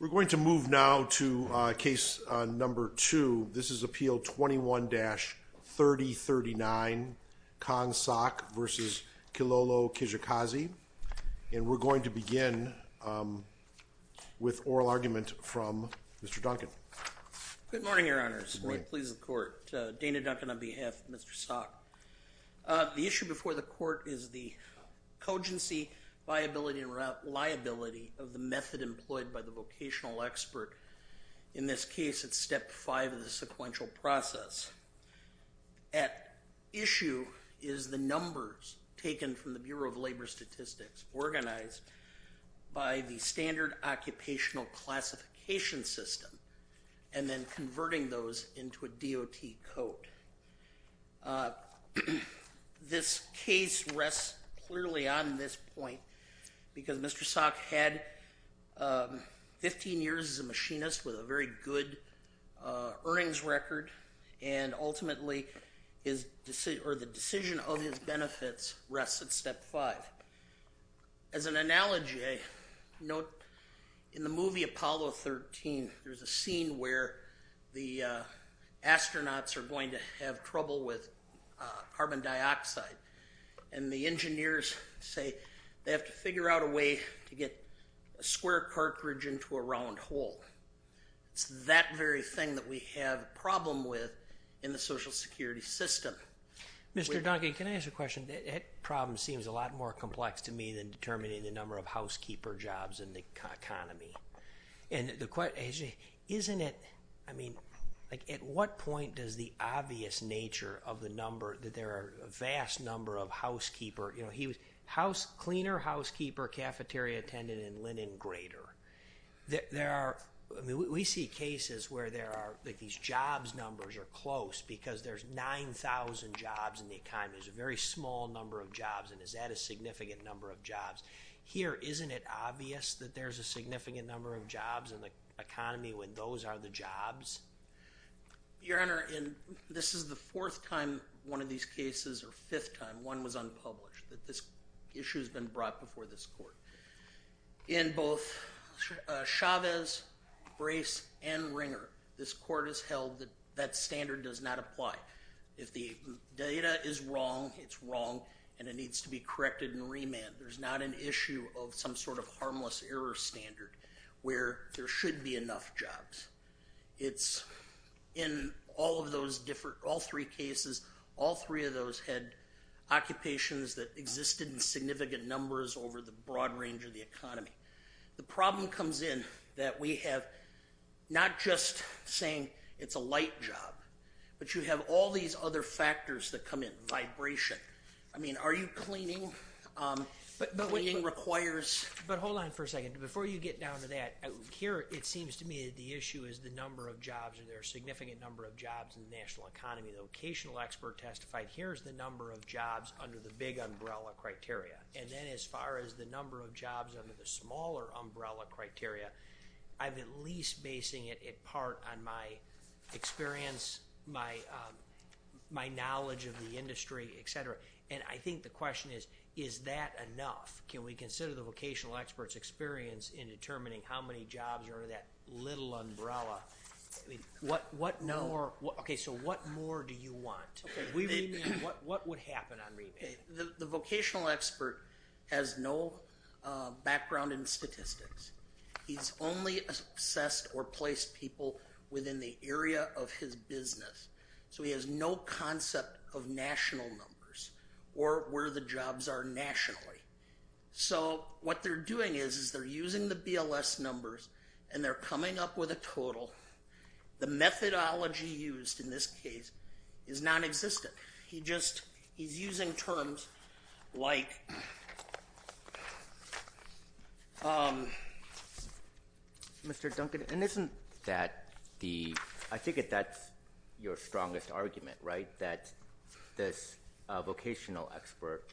We're going to move now to case number two. This is Appeal 21-3039 Kang Sok v. Kilolo Kijakazi. And we're going to begin with oral argument from Mr. Duncan. Good morning, Your Honors. Good morning. Please, the Court. Dana Duncan on behalf of Mr. Sok. The issue before the Court is the cogency, viability, and reliability of the method employed by the vocational expert. In this case, it's step five of the sequential process. At issue is the numbers taken from the Bureau of Labor Statistics organized by the standard occupational classification system and then converting those into a DOT code. This case rests clearly on this point because Mr. Sok had 15 years as a machinist with a very good earnings record and ultimately his decision, or the decision of his benefits rests at step five. As an analogy, note in the movie Apollo 13, there's a scene where the astronauts are going to have trouble with carbon dioxide and the engineers say they have to figure out a way to get a square cartridge into a round hole. It's that very thing that we have a problem with in the Social Security system. Mr. Duncan, can I ask a question? That problem seems a lot more complex to me than determining the number of jobs. At what point does the obvious nature of the number that there are a vast number of housekeeper, cleaner housekeeper, cafeteria attendant, and linen grader. We see cases where there are these jobs numbers are close because there's 9,000 jobs in the economy. There's a very small number of jobs and is that a significant number of jobs. Here, isn't it obvious that there's a significant number of jobs in the economy when those are the jobs? Your Honor, this is the fourth time one of these cases or fifth time one was unpublished that this issue has been brought before this court. In both Chavez, Grace, and Ringer, this court has held that that standard does not apply. If the data is wrong, it's wrong and it needs to be corrected and remanded. There's not an issue of some sort of harmless error standard where there should be enough jobs. It's in all of those different, all three cases, all three of those had occupations that existed in significant numbers over the broad range of the economy. The problem comes in that we have not just saying it's a light job, but you have all these other factors that come in. Vibration. I wouldn't. But hold on for a second. Before you get down to that, here it seems to me that the issue is the number of jobs and there are significant number of jobs in the national economy. The locational expert testified here's the number of jobs under the big umbrella criteria and then as far as the number of jobs under the smaller umbrella criteria, I've been least basing it in part on my experience, my knowledge of the industry, etc. And I think the question is, is that enough? Can we consider the vocational experts experience in determining how many jobs are in that little umbrella? What more do you want? What would happen on remand? The vocational expert has no background in statistics. He's only assessed or placed people within the area of his business. So he has no concept of national numbers or where the jobs are nationally. So what they're doing is they're using the BLS numbers and they're coming up with a total. The methodology used in this case is non-existent. He just he's using terms like Mr. Duncan, and isn't that the, I think that's your strongest argument, right? That this vocational expert,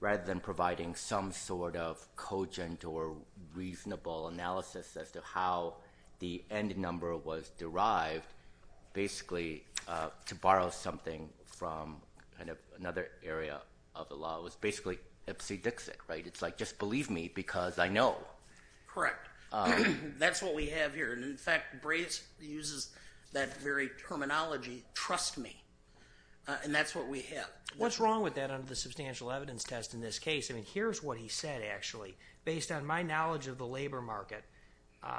rather than providing some sort of cogent or reasonable analysis as to how the end number was derived, basically to borrow something from kind of another area of the law was basically dipsy-dixit, right? It's like, just believe me because I know. Correct. That's what we have here. And in fact, Brayes uses that very terminology, trust me. And that's what we have. What's wrong with that under the substantial evidence test in this case? I mean, here's what he said, actually, based on my knowledge of the labor market.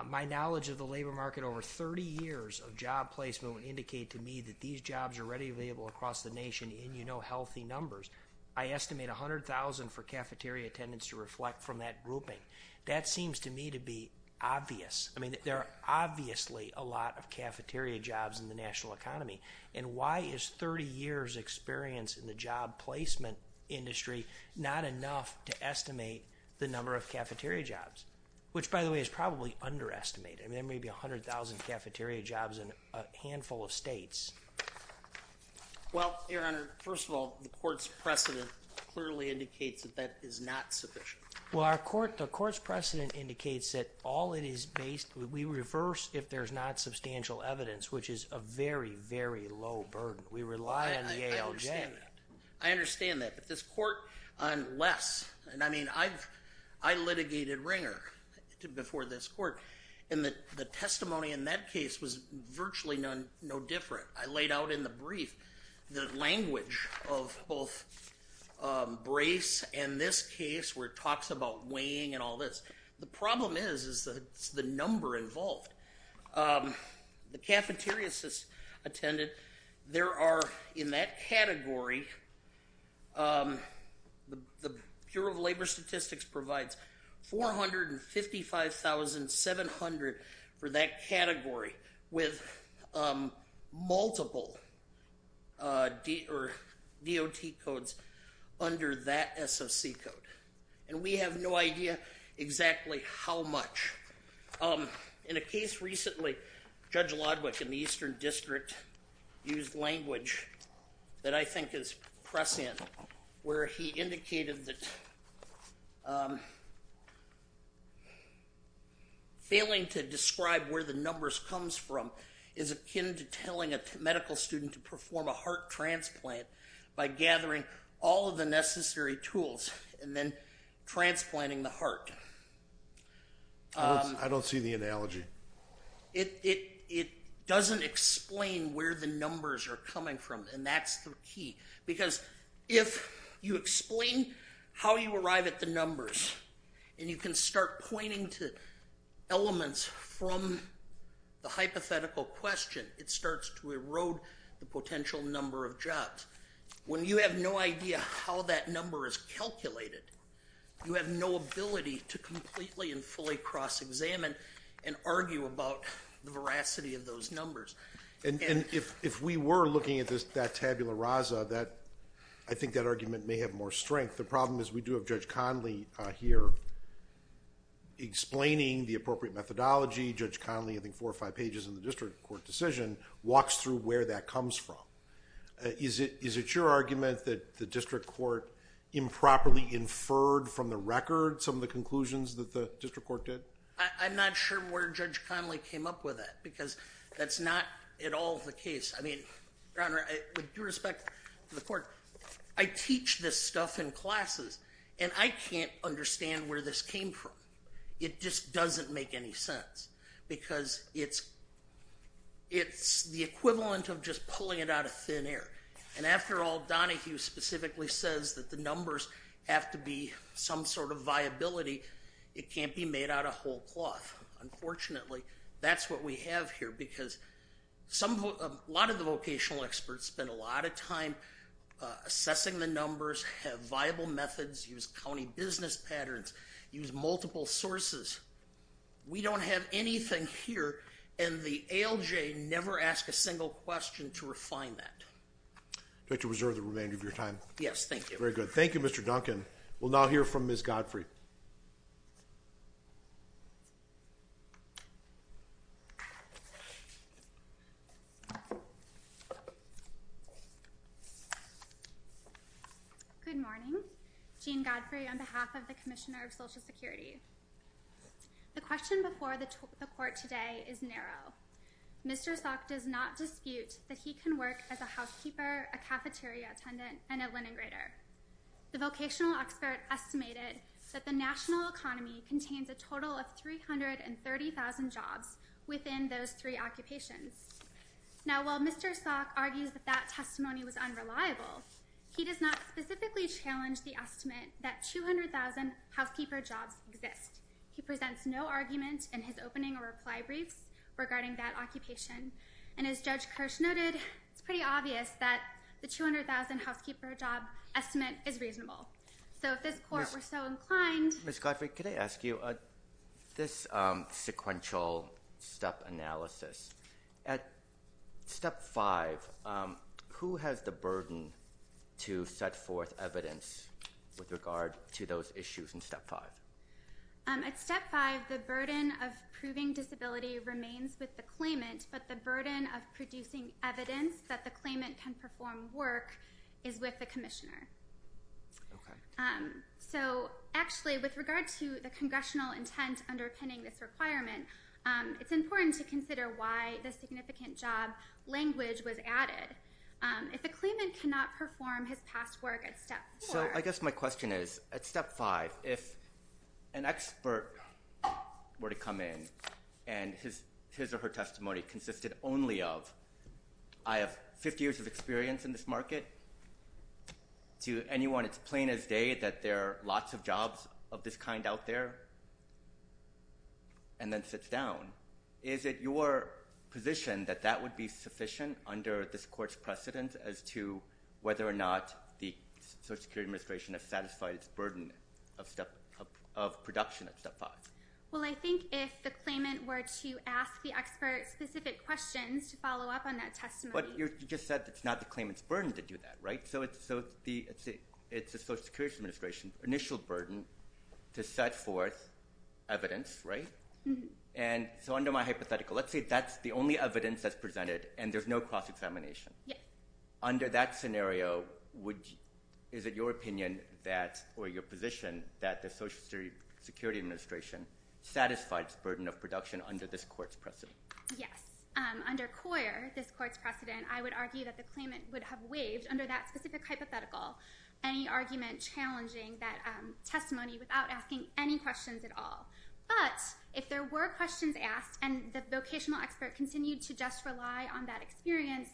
My knowledge of the labor market over 30 years of job placement would indicate to me that these jobs are readily available across the nation in, you know, healthy numbers. I estimate 100,000 for cafeteria attendance to reflect from that grouping. That seems to me to be obvious. I mean, there are obviously a lot of cafeteria jobs in the national economy. And why is 30 years experience in the job placement industry not enough to estimate the number of cafeteria jobs? Which, by the way, is probably underestimated. I mean, there may be 100,000 cafeteria jobs in a handful of states. Well, your honor, first of all, the court's precedent clearly indicates that that is not sufficient. Well, our court, the court's precedent indicates that all it is based, we reverse if there's not substantial evidence, which is a very, very low burden. We rely on the ALJ. I understand that. But this court, unless, and I mean, I've, I litigated Ringer before this court, and the testimony in that case was virtually no different. I laid out in the brief the language of both Brace and this case where it talks about weighing and all this. The problem is, is that it's the number involved. The cafeterias attended, there are in that category, the Bureau of Labor Statistics provides 455,700 for that category, with multiple DOT codes under that SOC code. And we have no idea exactly how much. In a case recently, Judge Lodwick in the Eastern failing to describe where the numbers comes from is akin to telling a medical student to perform a heart transplant by gathering all of the necessary tools and then transplanting the heart. I don't see the analogy. It doesn't explain where the numbers are coming from, and that's the key. Because if you explain how you arrive at the numbers, and you can start pointing to elements from the hypothetical question, it starts to erode the potential number of jobs. When you have no idea how that number is calculated, you have no ability to completely and fully cross-examine and If we were looking at that tabula rasa, I think that argument may have more strength. The problem is we do have Judge Conley here explaining the appropriate methodology. Judge Conley, I think four or five pages in the district court decision, walks through where that comes from. Is it your argument that the district court improperly inferred from the record some of the conclusions that the district court did? I'm not sure where Judge Conley came up with it, because that's not at all the case. I mean, Your Honor, with due respect to the court, I teach this stuff in classes, and I can't understand where this came from. It just doesn't make any sense, because it's the equivalent of just pulling it out of thin air. And after all, Donahue specifically says that the numbers have to be some sort of viability. It can't be made out of whole cloth. Unfortunately, that's what we have here, because a lot of the vocational experts spend a lot of time assessing the numbers, have viable methods, use county business patterns, use multiple sources. We don't have anything here, and the ALJ never asked a single question to refine that. I'd like to reserve the remainder of your time. Yes, thank you. Very good. Thank you. Good morning. Jean Godfrey on behalf of the Commissioner of Social Security. The question before the court today is narrow. Mr. Salk does not dispute that he can work as a housekeeper, a cafeteria attendant, and a linen grader. The vocational expert estimated that the national economy contains a total of 330,000 jobs within those three occupations. Now, while Mr. Salk argues that that testimony was unreliable, he does not specifically challenge the estimate that 200,000 housekeeper jobs exist. He presents no argument in his opening or reply briefs regarding that occupation, and as Judge Kirsch noted, it's pretty obvious that the 200,000 housekeeper job estimate is reasonable. So if this court were so inclined... Ms. Godfrey, could I ask you, this sequential step analysis, at step five, who has the burden to set forth evidence with regard to those issues in step five? At step five, the burden of proving disability remains with the claimant, but the burden of producing evidence that the claimant can perform work is with the commissioner. So actually, with regard to the congressional intent underpinning this requirement, it's important to consider why the significant job language was added. If the claimant cannot perform his past work at step four... So I guess my question is, at step five, if an expert were to come in and his or her testimony consisted only of, I have 50 years of experience in this market, to anyone, it's plain as day that there are lots of jobs of this kind out there, and then sits down. Is it your position that that would be sufficient under this court's precedent as to whether or not the Social Security Administration has satisfied its burden of production at step five? Well, I think if the claimant were to ask the expert specific questions to follow up on that testimony... But you just said it's not the claimant's burden to do that, right? So it's the Social Security Administration's initial burden to set forth evidence, right? And so under my hypothetical, let's say that's the only evidence that's presented and there's no cross-examination. Under that scenario, is it your opinion that, or your position, that the Social Security Administration satisfies burden of production under this court's precedent? Yes. Under Coyer, this court's precedent, I would argue that the claimant would have waived, under that specific hypothetical, any argument challenging that testimony without asking any questions at all. But if there were questions asked and the vocational expert continued to just rely on that experience,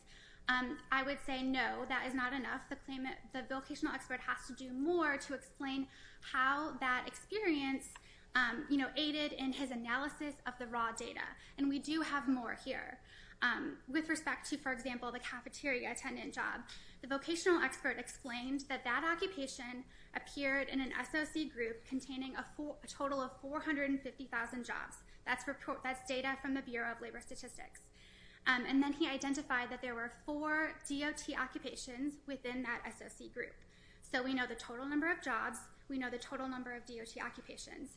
I would say no, that is not enough. The vocational expert has to do more to explain how that experience, you know, aided in his analysis of the raw data. And we do have more here. With respect to, for example, the cafeteria attendant job, the vocational expert explained that that occupation appeared in an SOC group containing a total of 450,000 jobs. That's data from the Bureau of Labor Statistics. And then he identified that there were four DOT occupations within that SOC group. So we know the total number of jobs, we know the total number of occupations.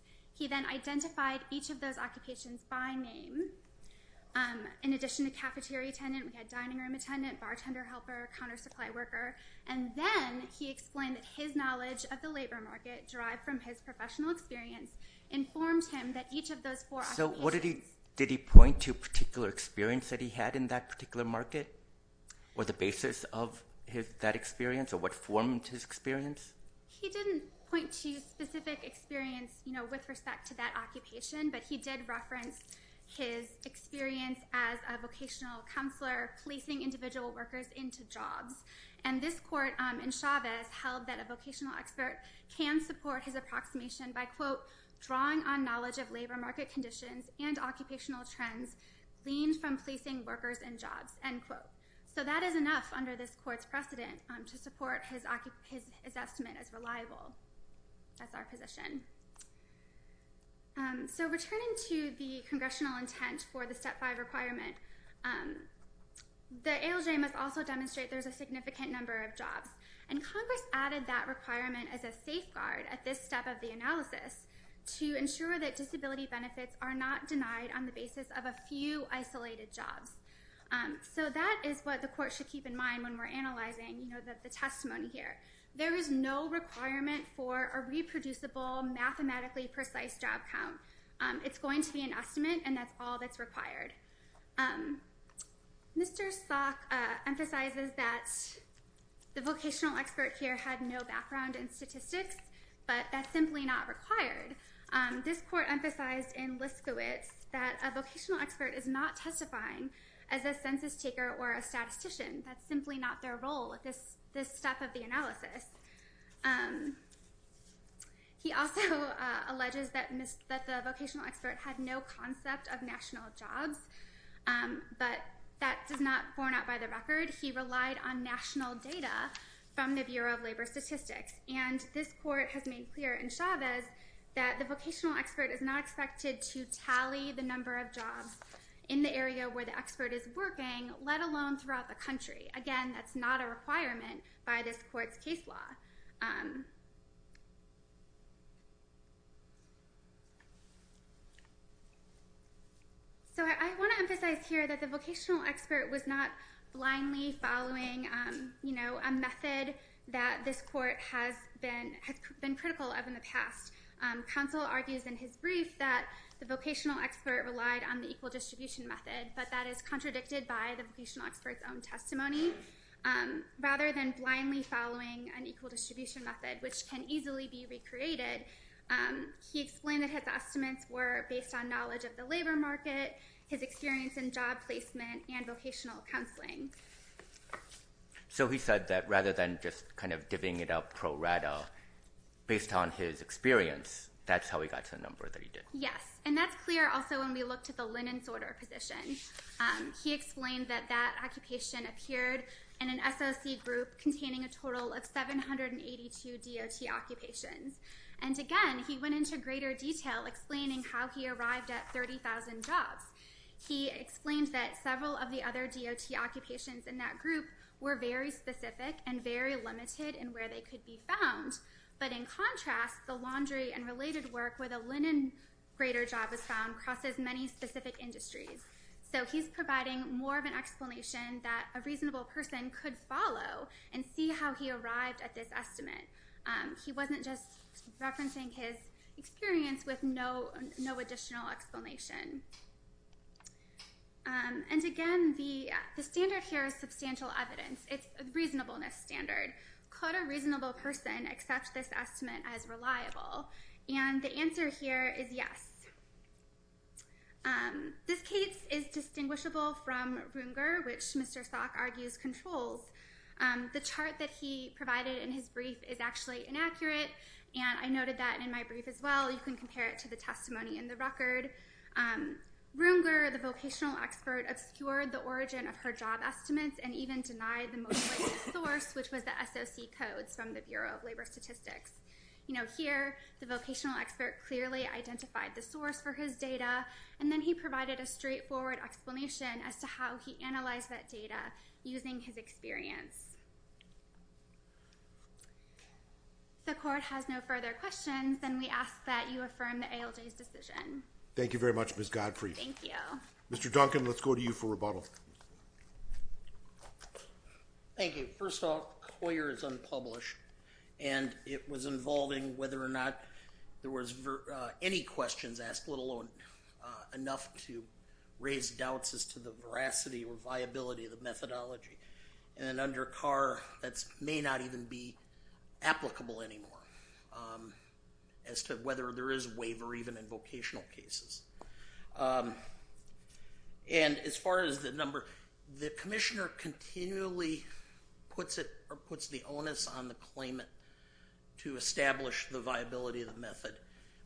In addition to cafeteria attendant, we had dining room attendant, bartender helper, counter supply worker. And then he explained that his knowledge of the labor market, derived from his professional experience, informed him that each of those four occupations... So what did he, did he point to a particular experience that he had in that particular market, or the basis of that experience, or what formed his experience? He didn't point to specific experience, you know, with respect to that occupation, but he did reference his experience as a vocational counselor, placing individual workers into jobs. And this court in Chavez held that a vocational expert can support his approximation by, quote, drawing on knowledge of labor market conditions and occupational trends, gleaned from placing workers in jobs, end quote. So that is enough under this court's precedent to support his estimate as reliable as our position. So returning to the congressional intent for the Step 5 requirement, the ALJ must also demonstrate there's a significant number of jobs. And Congress added that requirement as a safeguard at this step of the analysis to ensure that disability benefits are not denied on the basis of a few isolated jobs. So that is what the court should in mind when we're analyzing the testimony here. There is no requirement for a reproducible, mathematically precise job count. It's going to be an estimate, and that's all that's required. Mr. Salk emphasizes that the vocational expert here had no background in statistics, but that's simply not required. This court emphasized in Liskowitz that a vocational expert is not a risk-taker or a statistician. That's simply not their role at this step of the analysis. He also alleges that the vocational expert had no concept of national jobs, but that does not borne out by the record. He relied on national data from the Bureau of Labor Statistics. And this court has made clear in Chavez that the vocational expert is not expected to tally the number of jobs in the area where the expert is working, let alone throughout the country. Again, that's not a requirement by this court's case law. So I want to emphasize here that the vocational expert was not blindly following a method that this court has been critical of in the past. Counsel argues in his brief that the vocational expert relied on the equal distribution method, but that is contradicted by the vocational expert's own testimony. Rather than blindly following an equal distribution method, which can easily be recreated, he explained that his estimates were based on knowledge of the labor market, his experience in job placement, and vocational counseling. So he said that rather than just kind of divvying it up pro rata, based on his experience, that's how he got to the number that he did. Yes. And that's clear also when we looked at the linen sorter position. He explained that that occupation appeared in an SOC group containing a total of 782 DOT occupations. And again, he went into greater detail explaining how he arrived at in that group were very specific and very limited in where they could be found. But in contrast, the laundry and related work where the linen grader job was found crosses many specific industries. So he's providing more of an explanation that a reasonable person could follow and see how he arrived at this estimate. He wasn't just referencing his experience with no additional explanation. And again, the standard here is substantial evidence. It's a reasonableness standard. Could a reasonable person accept this estimate as reliable? And the answer here is yes. This case is distinguishable from Runger, which Mr. Salk argues controls. The chart that he provided in his brief is actually inaccurate. And I noted that in my brief as well, you can compare it to the testimony in the record. Runger, the vocational expert, obscured the origin of her job estimates and even denied the most source, which was the SOC codes from the Bureau of Labor Statistics. Here, the vocational expert clearly identified the source for his data. And then he provided a straightforward explanation as to how he analyzed that data using his experience. The court has no further questions, and we ask that you affirm the ALJ's decision. Thank you very much, Ms. Godfrey. Thank you. Mr. Duncan, let's go to you for rebuttal. Thank you. First off, Coyer is unpublished, and it was involving whether or not there was any questions asked, let alone enough to raise doubts as to the veracity or viability of the methodology. And under Carr, that may not even be applicable anymore as to whether there is waiver even in vocational cases. And as far as the number, the commissioner continually puts the onus on the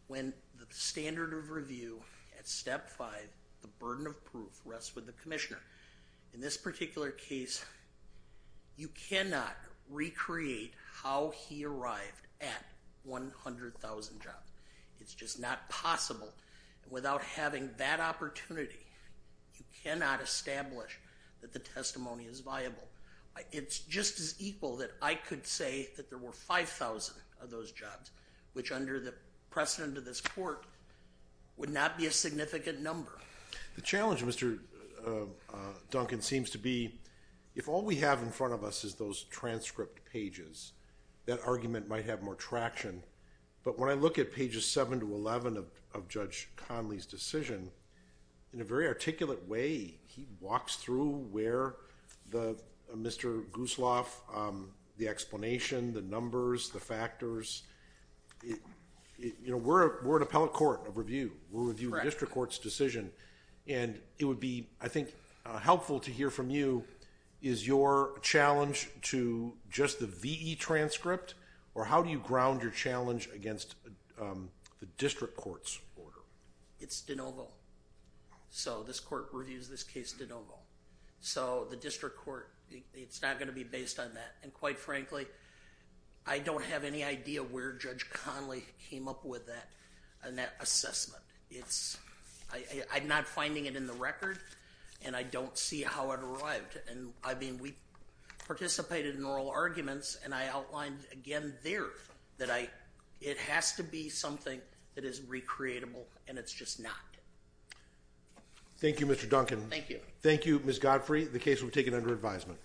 when the standard of review at step five, the burden of proof rests with the commissioner. In this particular case, you cannot recreate how he arrived at 100,000 jobs. It's just not possible. Without having that opportunity, you cannot establish that the testimony is viable. It's just as equal that I could say that there were 5,000 of those jobs, which under the precedent of this court would not be a significant number. The challenge, Mr. Duncan, seems to be if all we have in front of us is those transcript pages, that argument might have more traction. But when I look at pages seven to 11 of Judge Conley's Mr. Gusloff, the explanation, the numbers, the factors, we're an appellate court of review. We'll review the district court's decision. And it would be, I think, helpful to hear from you, is your challenge to just the VE transcript? Or how do you ground your challenge against the district court's order? It's de novo. So this court reviews this case de novo. So the district court, it's not going to be based on that. And quite frankly, I don't have any idea where Judge Conley came up with that assessment. I'm not finding it in the record, and I don't see how it arrived. And I mean, we participated in oral arguments, and I outlined again there that it has to be that is recreatable, and it's just not. Thank you, Mr. Duncan. Thank you. Thank you, Ms. Godfrey. The case will be taken under advisement.